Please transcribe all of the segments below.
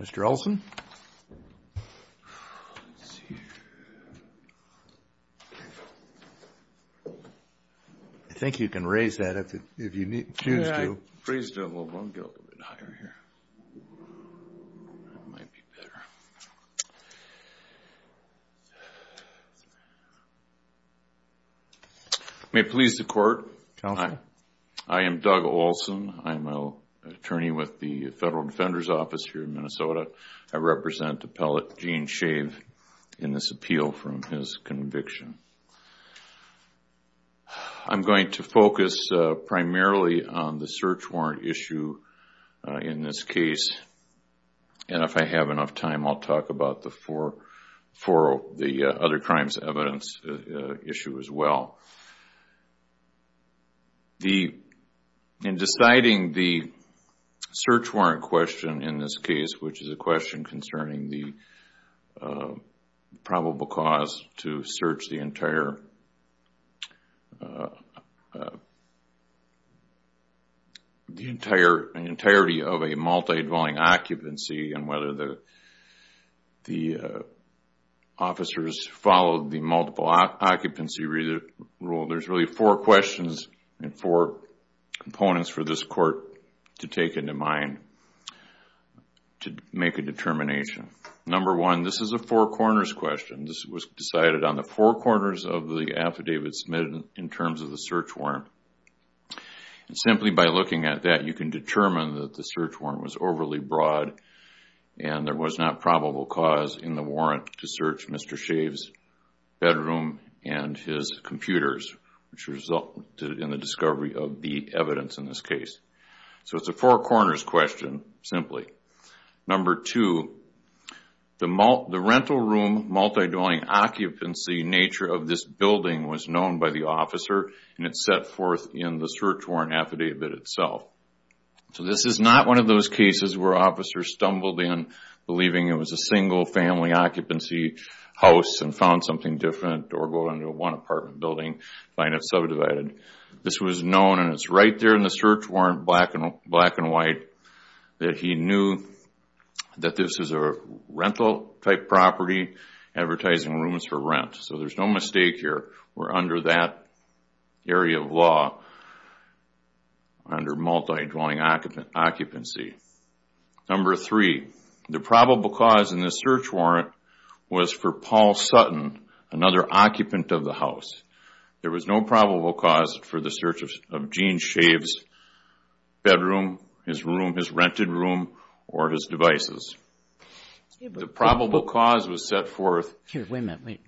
Mr. Olson? I think you can raise that if you choose to. May it please the Court? Counsel? I am Doug Olson. I'm an attorney with the Federal Defender's Office here in Minnesota. I represent appellate Gene Schave in this appeal from his conviction. I'm going to focus primarily on the search warrant issue in this case. And if I have enough time, I'll talk about the other crimes evidence issue as well. In deciding the search warrant question in this case, which is a question concerning the probable cause to search the entirety of a multi-dwelling occupancy, and whether the officers followed the multiple occupancy rule, there's really four questions and four components for this Court to take into mind to make a determination. Number one, this is a four corners question. This was decided on the four corners of the affidavit submitted in terms of the search warrant. Simply by looking at that, you can determine that the search warrant was overly broad and there was not probable cause in the warrant to search Mr. Schave's bedroom and his computers, which resulted in the discovery of the evidence in this case. So it's a four corners question, simply. Number two, the rental room multi-dwelling occupancy nature of this building was known by the officer and it's set forth in the search warrant affidavit itself. So this is not one of those cases where officers stumbled in believing it was a single family occupancy house and found something different or go into one apartment building and find it subdivided. This was known and it's right there in the search warrant, black and white, that he knew that this is a rental type property advertising rooms for rent. So there's no mistake here. We're under that area of law, under multi-dwelling occupancy. Number three, the probable cause in the search warrant was for Paul Sutton, another occupant of the house. There was no probable cause for the search of Gene Schave's bedroom, his room, his rented room, or his devices. The probable cause was set forth... Here, wait a minute.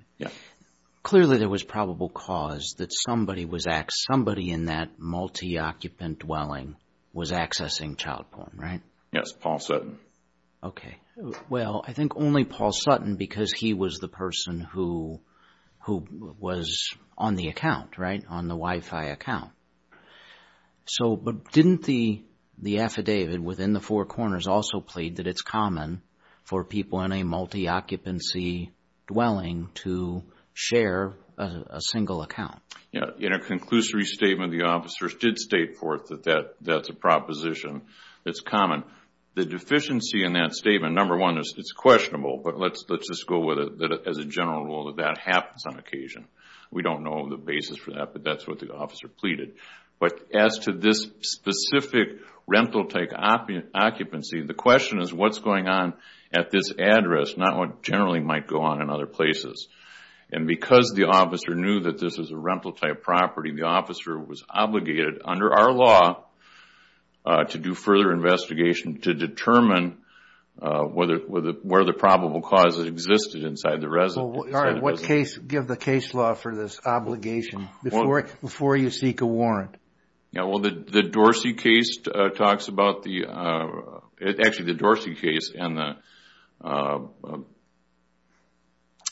Clearly there was probable cause that somebody was, somebody in that multi-occupant dwelling was accessing child porn, right? Yes, Paul Sutton. Okay. Well, I think only Paul Sutton because he was the person who was on the account, right? On the Wi-Fi account. So, but didn't the affidavit within the four corners also plead that it's common for people in a multi-occupancy dwelling to share a single account? In a conclusory statement, the officers did state forth that that's a proposition that's common. The deficiency in that statement, number one, it's questionable, but let's just go with it as a general rule that that happens on occasion. We don't know the basis for that, but that's what the officer pleaded. But as to this specific rental-type occupancy, the question is what's going on at this address, not what generally might go on in other places. And because the officer knew that this was a rental-type property, the officer was obligated under our law to do further investigation to determine where the probable cause existed inside the residence. All right. Give the case law for this obligation before you seek a warrant. Yeah, well, the Dorsey case talks about the...actually, the Dorsey case and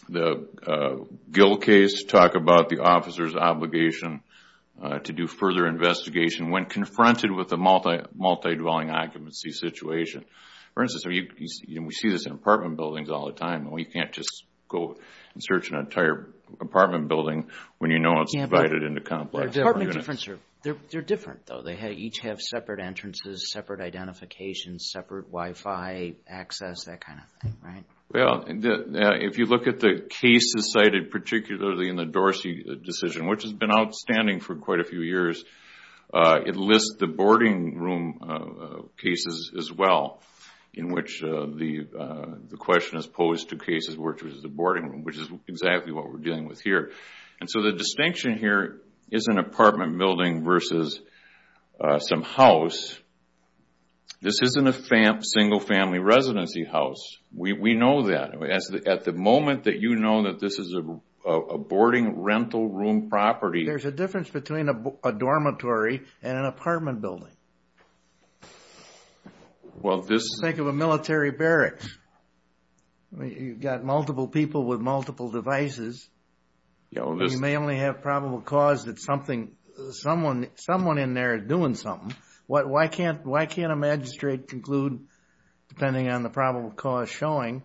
the Gill case talk about the officer's obligation to do further investigation when confronted with a multi-dwelling occupancy situation. For instance, we see this in apartment buildings all the time. We can't just go and search an entire apartment building when you know it's divided into complex units. They're different, though. They each have separate entrances, separate identifications, separate Wi-Fi access, that kind of thing, right? Well, if you look at the cases cited, particularly in the Dorsey decision, which has been outstanding for quite a few years, it lists the boarding room cases as well, in which the question is posed to cases where there's a boarding room, which is exactly what we're dealing with here. And so the distinction here isn't apartment building versus some house. This isn't a single-family residency house. We know that. At the moment that you know that this is a boarding rental room property... There's a difference between a dormitory and an apartment building. Well, this... Think of a military barracks. You've got multiple people with multiple devices. You may only have probable cause that someone in there is doing something. Why can't a magistrate conclude, depending on the probable cause, showing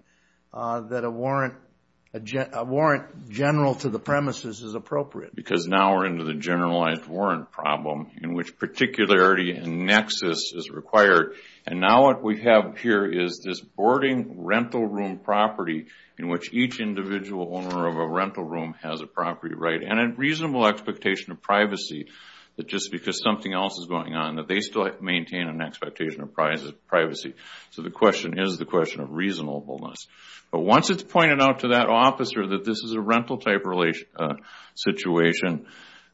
that a warrant general to the premises is appropriate? Because now we're into the generalized warrant problem, in which particularity and nexus is required. And now what we have here is this boarding rental room property in which each individual owner of a rental room has a property right, and a reasonable expectation of privacy, that just because something else is going on, that they still maintain an expectation of privacy. So the question is the question of reasonableness. But once it's pointed out to that officer that this is a rental-type situation,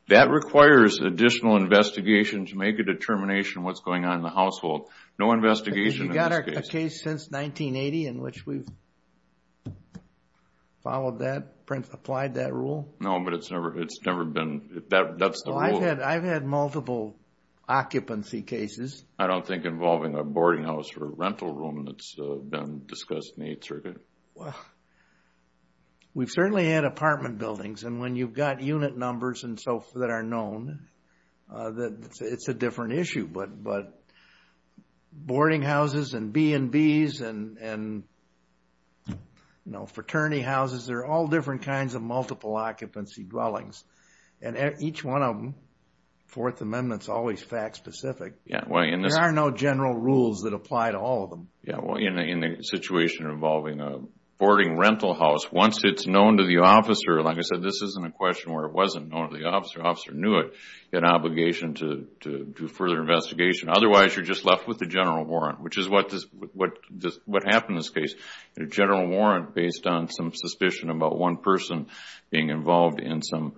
that requires additional investigation to make a determination of what's going on in the household. No investigation in this case. Have you got a case since 1980 in which we've followed that, applied that rule? No, but it's never been... That's the rule. I've had multiple occupancy cases. I don't think involving a boarding house or a rental room that's been discussed in the Eighth Circuit. Well, we've certainly had apartment buildings. And when you've got unit numbers and so forth that are known, it's a different issue. But boarding houses and B&Bs and fraternity houses, they're all different kinds of multiple occupancy dwellings. And each one of them, Fourth Amendment's always fact-specific. There are no general rules that apply to all of them. Yeah, well, in a situation involving a boarding rental house, once it's known to the officer, like I said, this isn't a question where it wasn't known to the officer. The officer knew it, had an obligation to do further investigation. Otherwise, you're just left with a general warrant, which is what happened in this case. A general warrant based on some suspicion about one person being involved in some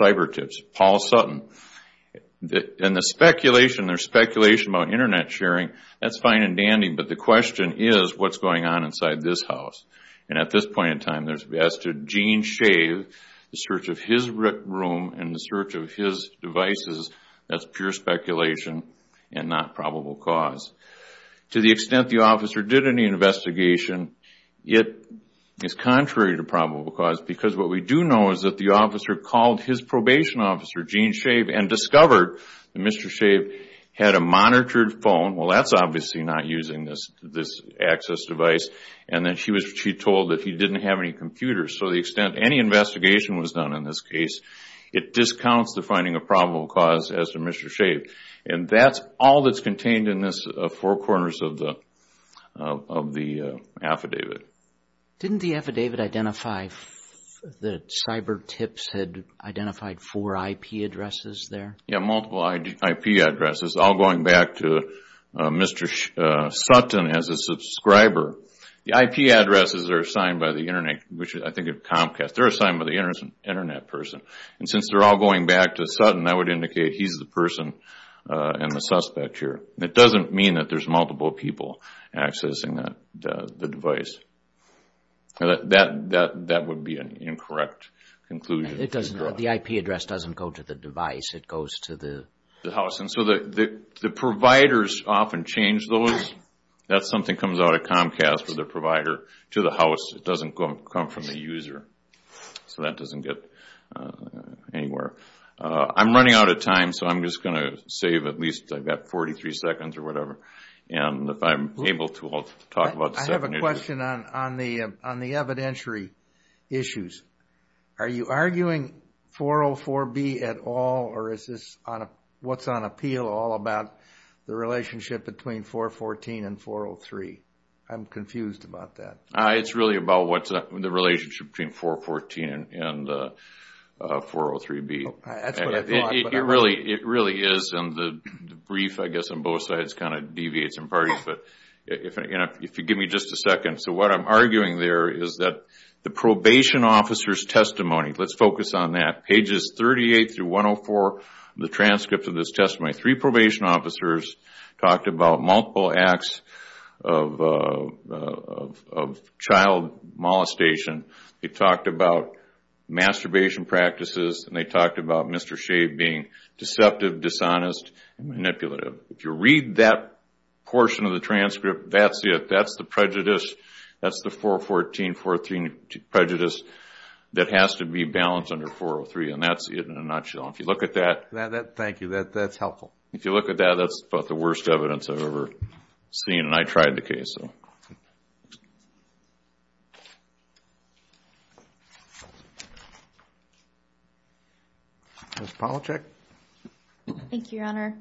cyber tips. Paul Sutton. And there's speculation about Internet sharing. That's fine and dandy, but the question is, what's going on inside this house? And at this point in time, as to Gene Shave, the search of his room and the search of his devices, that's pure speculation and not probable cause. To the extent the officer did any investigation, it is contrary to probable cause. Because what we do know is that the officer called his probation officer, Gene Shave, and discovered that Mr. Shave had a monitored phone. Well, that's obviously not using this access device. And then she was told that he didn't have any computers. So to the extent any investigation was done in this case, it discounts the finding of probable cause as to Mr. Shave. And that's all that's contained in this four corners of the affidavit. Didn't the affidavit identify that cyber tips had identified four IP addresses there? Yeah, multiple IP addresses, all going back to Mr. Sutton as a subscriber. The IP addresses are assigned by the Internet, which I think at Comcast, they're assigned by the Internet person. And since they're all going back to Sutton, I would indicate he's the person and the suspect here. It doesn't mean that there's multiple people accessing the device. That would be an incorrect conclusion. The IP address doesn't go to the device, it goes to the... ...the house. And so the providers often change those. That's something that comes out of Comcast with the provider to the house. It doesn't come from the user. So that doesn't get anywhere. I'm running out of time, so I'm just going to save at least, I've got 43 seconds or whatever. And if I'm able to, I'll talk about... I have a question on the evidentiary issues. Are you arguing 404B at all, or is this what's on appeal all about the relationship between 414 and 403? I'm confused about that. It's really about what's the relationship between 414 and 403B. It really is, and the brief, I guess, on both sides kind of deviates in parts. But if you give me just a second. So what I'm arguing there is that the probation officer's testimony, let's focus on that. Pages 38-104 of the transcript of this testimony, three probation officers talked about multiple acts of child molestation. They talked about masturbation practices, and they talked about Mr. Shave being deceptive, dishonest, and manipulative. If you read that portion of the transcript, that's it. That's the prejudice. That's the 414, 413 prejudice that has to be balanced under 403, and that's it in a nutshell. So if you look at that... Thank you. That's helpful. If you look at that, that's about the worst evidence I've ever seen, and I tried the case. Ms. Polachek? Thank you, Your Honor.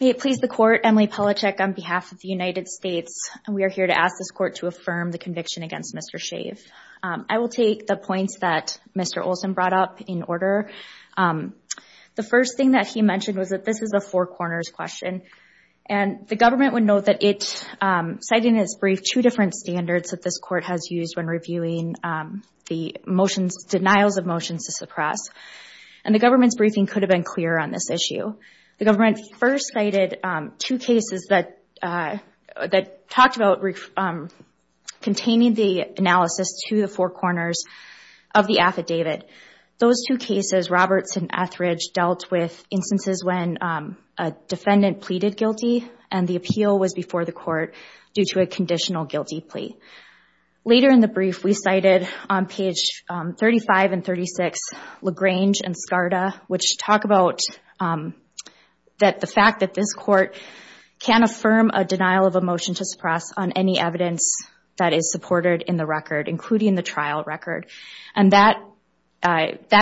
May it please the Court, Emily Polachek on behalf of the United States, we are here to ask this Court to affirm the conviction against Mr. Shave. I will take the points that Mr. Olson brought up in order. The first thing that he mentioned was that this is a four corners question, and the government would note that it cited in its brief two different standards that this Court has used when reviewing the motions, denials of motions to suppress. And the government's briefing could have been clearer on this issue. The government first cited two cases that talked about containing the analysis to the four corners of the affidavit. Those two cases, Roberts and Etheridge, dealt with instances when a defendant pleaded guilty, and the appeal was before the Court due to a conditional guilty plea. Later in the brief, we cited on page 35 and 36, LaGrange and Skarda, which talk about the fact that this Court can affirm a denial of a motion to suppress on any evidence that is supported in the record, including the trial record. And that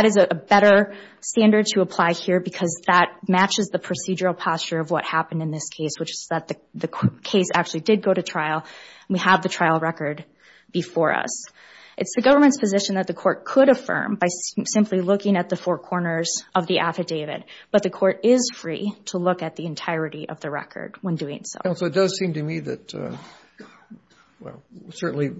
is a better standard to apply here because that matches the procedural posture of what happened in this case, which is that the case actually did go to trial, and we have the trial record before us. It's the government's position that the Court could affirm by simply looking at the four corners of the affidavit, but the Court is free to look at the entirety of the record when doing so. Counsel, it does seem to me that, well, certainly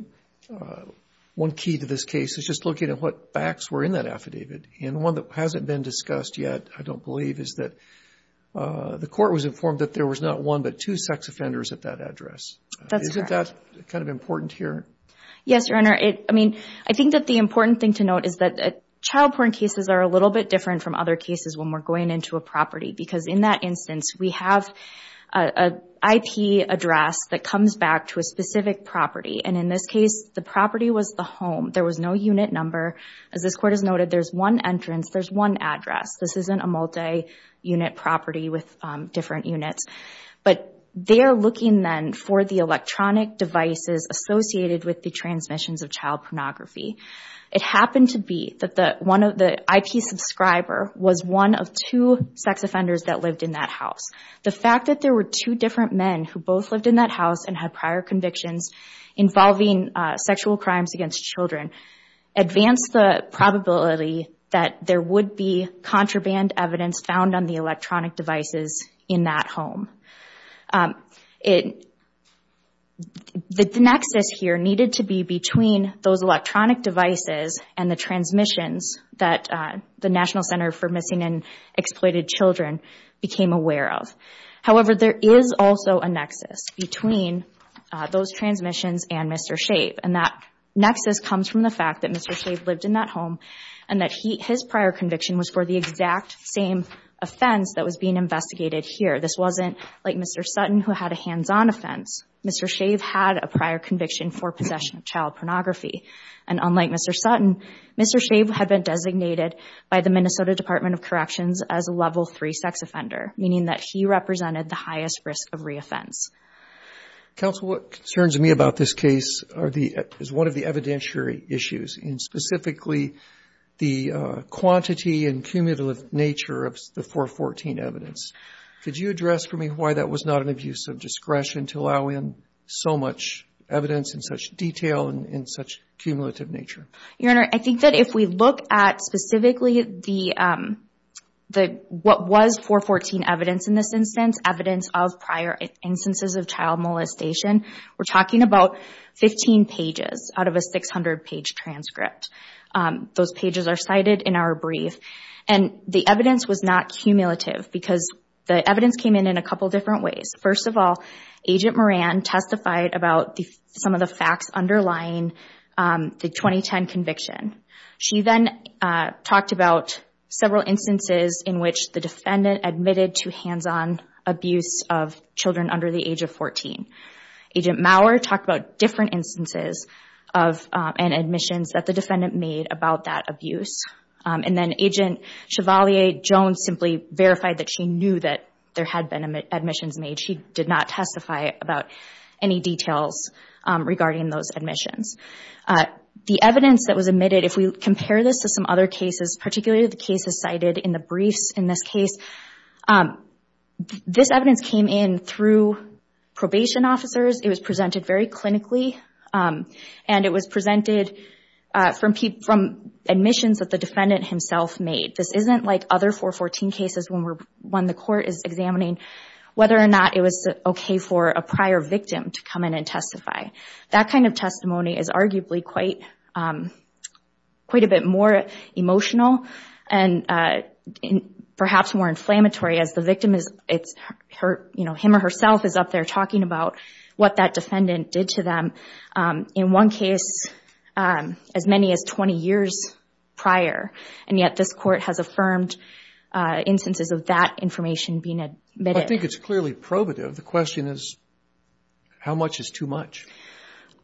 one key to this case is just looking at what facts were in that affidavit. And one that hasn't been discussed yet, I don't believe, is that the Court was informed that there was not one but two sex offenders at that address. That's correct. Isn't that kind of important here? Yes, Your Honor. I mean, I think that the important thing to note is that child porn cases are a little bit different from other cases when we're going into a property, because in that instance, we have an IP address that comes back to a specific property. And in this case, the property was the home. There was no unit number. As this Court has noted, there's one entrance, there's one address. This isn't a multi-unit property with different units. But they are looking then for the electronic devices associated with the transmissions of child pornography. It happened to be that the IP subscriber was one of two sex offenders that lived in that house. The fact that there were two different men who both lived in that house and had prior convictions involving sexual crimes against children advanced the probability that there would be contraband evidence found on the electronic devices in that home. The nexus here needed to be between those electronic devices and the transmissions that the National Center for Missing and Exploited Children became aware of. However, there is also a nexus between those transmissions and Mr. Shave. And that nexus comes from the fact that Mr. Shave lived in that home and that his prior conviction was for the exact same offense that was being investigated here. This wasn't like Mr. Sutton who had a hands-on offense. Mr. Shave had a prior conviction for possession of child pornography. And unlike Mr. Sutton, Mr. Shave had been designated by the Minnesota Department of Corrections as a Level III sex offender, meaning that he represented the highest risk of re-offense. Counsel, what concerns me about this case is one of the evidentiary issues, and specifically the quantity and cumulative nature of the 414 evidence. Could you address for me why that was not an abuse of discretion to allow in so much evidence in such detail and in such cumulative nature? Your Honor, I think that if we look at specifically what was 414 evidence in this instance, evidence of prior instances of child molestation, we're talking about 15 pages out of a 600-page transcript. Those pages are cited in our brief. And the evidence was not cumulative because the evidence came in in a couple different ways. First of all, Agent Moran testified about some of the facts underlying the 2010 conviction. She then talked about several instances in which the defendant admitted to hands-on abuse of children under the age of 14. Agent Maurer talked about different instances and admissions that the defendant made about that abuse. And then Agent Chevalier-Jones simply verified that she knew that there had been admissions made. She did not testify about any details regarding those admissions. The evidence that was admitted, if we compare this to some other cases, particularly the cases cited in the briefs in this case, this evidence came in through probation officers. It was presented very clinically, and it was presented from admissions that the defendant himself made. This isn't like other 414 cases when the court is examining whether or not it was okay for a prior victim to come in and testify. That kind of testimony is arguably quite a bit more emotional and perhaps more inflammatory as the victim, him or herself, is up there talking about what that defendant did to them. In one case, as many as 20 years prior, and yet this court has affirmed instances of that information being admitted. I think it's clearly probative. The question is, how much is too much?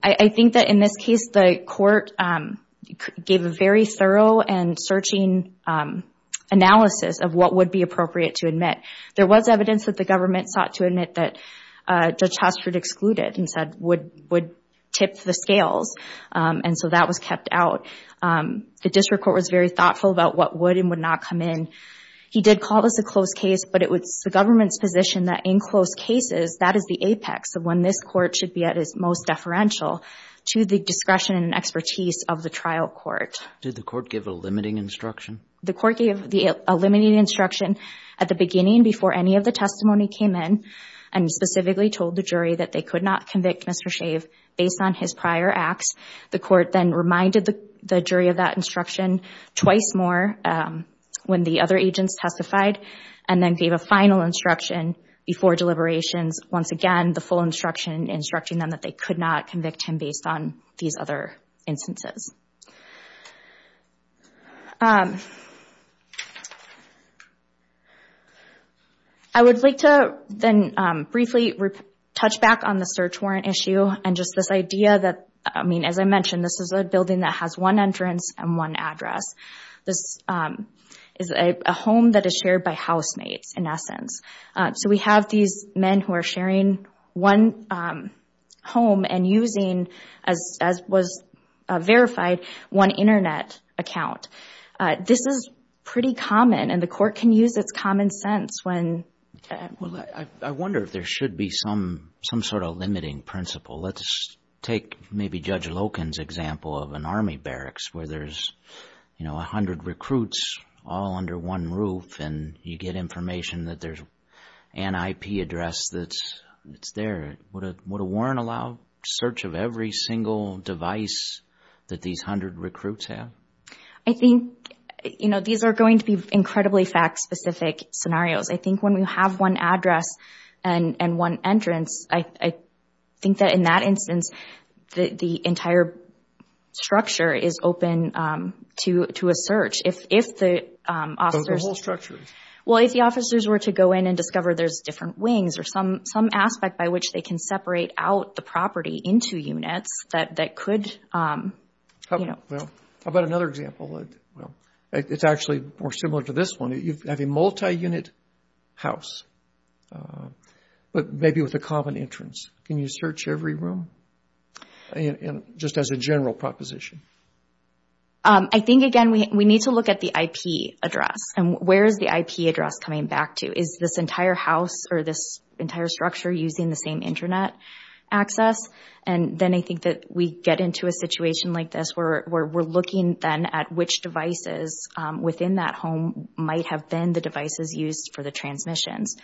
I think that in this case, the court gave a very thorough and searching analysis of what would be appropriate to admit. There was evidence that the government sought to admit that Judge Hosford excluded and said would tip the scales, and so that was kept out. The district court was very thoughtful about what would and would not come in. He did call this a close case, but it was the government's position that in close cases, that is the apex of when this court should be at its most deferential to the discretion and expertise of the trial court. Did the court give a limiting instruction? The court gave the limiting instruction at the beginning before any of the testimony came in, and specifically told the jury that they could not convict Mr. Shave based on his prior acts. The court then reminded the jury of that instruction twice more when the other agents testified, and then gave a final instruction before deliberations, once again, the full instruction instructing them that they could not convict him based on these other instances. I would like to then briefly touch back on the search warrant issue and just this idea that, as I mentioned, this is a building that has one entrance and one address. This is a home that is shared by housemates, in essence. So we have these men who are sharing one home and using, as was verified, one internet account. This is pretty common, and the court can use its common sense when… I wonder if there should be some sort of limiting principle. Let's take maybe Judge Loken's example of an army barracks where there's 100 recruits all under one roof, and you get information that there's an IP address that's there. Would a warrant allow search of every single device that these 100 recruits have? I think, you know, these are going to be incredibly fact-specific scenarios. I think when we have one address and one entrance, I think that in that instance, the entire structure is open to a search. If the officers… The whole structure. Well, if the officers were to go in and discover there's different wings or some aspect by which they can separate out the property into units that could, you know… How about another example? It's actually more similar to this one. You have a multi-unit house, but maybe with a common entrance. Can you search every room, just as a general proposition? I think, again, we need to look at the IP address, and where is the IP address coming back to? Is this entire house or this entire structure using the same Internet access? And then I think that we get into a situation like this where we're looking then at which devices within that home might have been the devices used for the transmissions.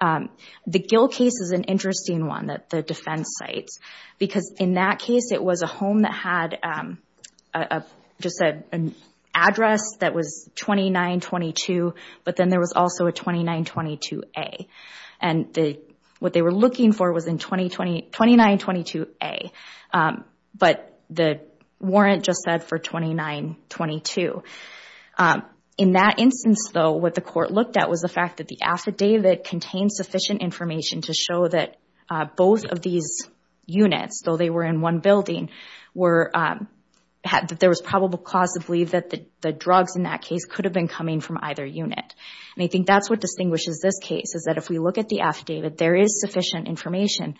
The Gill case is an interesting one that the defense cites, because in that case, it was a home that had just an address that was 2922, but then there was also a 2922A. And what they were looking for was in 2922A, but the warrant just said for 2922. In that instance, though, what the court looked at was the fact that the affidavit contained sufficient information to show that both of these units, though they were in one building, there was probable cause to believe that the drugs in that case could have been coming from either unit. And I think that's what distinguishes this case, is that if we look at the affidavit, there is sufficient information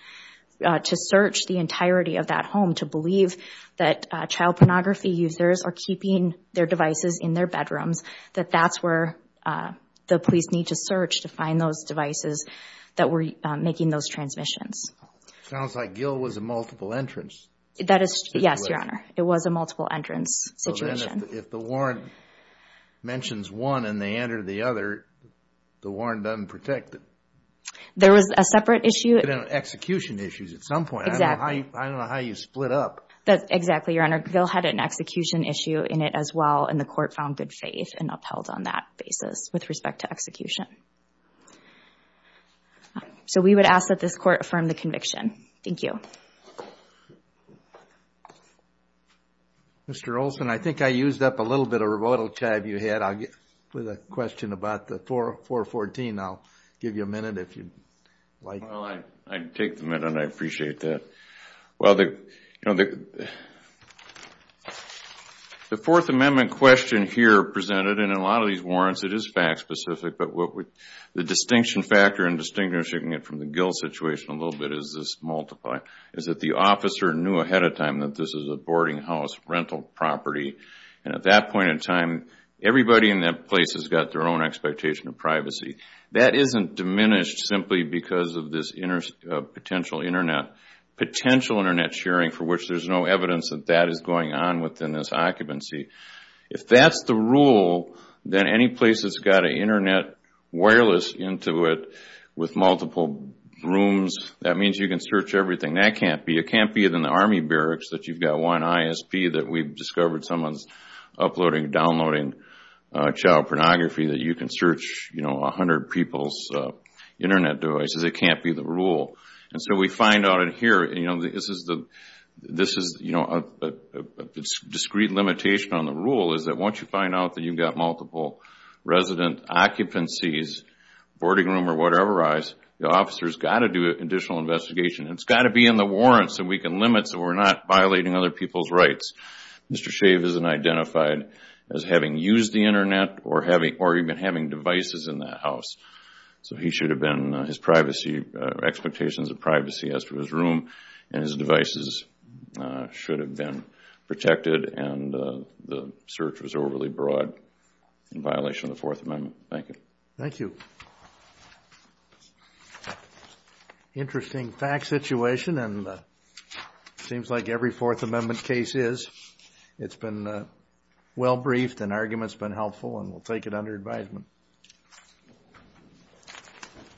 to search the entirety of that home to believe that child pornography users are keeping their devices in their bedrooms, that that's where the police need to search to find those devices that were making those transmissions. Sounds like Gill was a multiple entrance situation. Yes, Your Honor. It was a multiple entrance situation. If the warrant mentions one and they enter the other, the warrant doesn't protect it. There was a separate issue. Execution issues at some point. I don't know how you split up. Exactly, Your Honor. Gill had an execution issue in it as well, and the court found good faith and upheld on that basis with respect to execution. So we would ask that this court affirm the conviction. Thank you. Thank you. Mr. Olson, I think I used up a little bit of rebuttal time you had with a question about the 414. I'll give you a minute if you'd like. Well, I take the minute and I appreciate that. Well, the Fourth Amendment question here presented, and in a lot of these warrants it is fact specific, but the distinction factor and distinguishing it from the Gill situation a little bit is this multiply. Is that the officer knew ahead of time that this is a boarding house rental property, and at that point in time, everybody in that place has got their own expectation of privacy. That isn't diminished simply because of this potential Internet sharing for which there's no evidence that that is going on within this occupancy. If that's the rule, then any place that's got an Internet wireless into it with multiple rooms, that means you can search everything. That can't be. It can't be in the Army barracks that you've got one ISP that we've discovered someone's uploading, downloading child pornography that you can search 100 people's Internet devices. It can't be the rule. And so we find out in here, this is a discrete limitation on the rule, is that once you find out that you've got multiple resident occupancies, boarding room or whatever, the officers got to do an additional investigation. It's got to be in the warrants, and we can limit so we're not violating other people's rights. Mr. Shave isn't identified as having used the Internet or even having devices in that house. So he should have been, his privacy, expectations of privacy as to his room and his devices should have been protected, and the search was overly broad in violation of the Fourth Amendment. Thank you. Thank you. Interesting fact situation, and seems like every Fourth Amendment case is. It's been well-briefed and arguments been helpful, and we'll take it under advisement.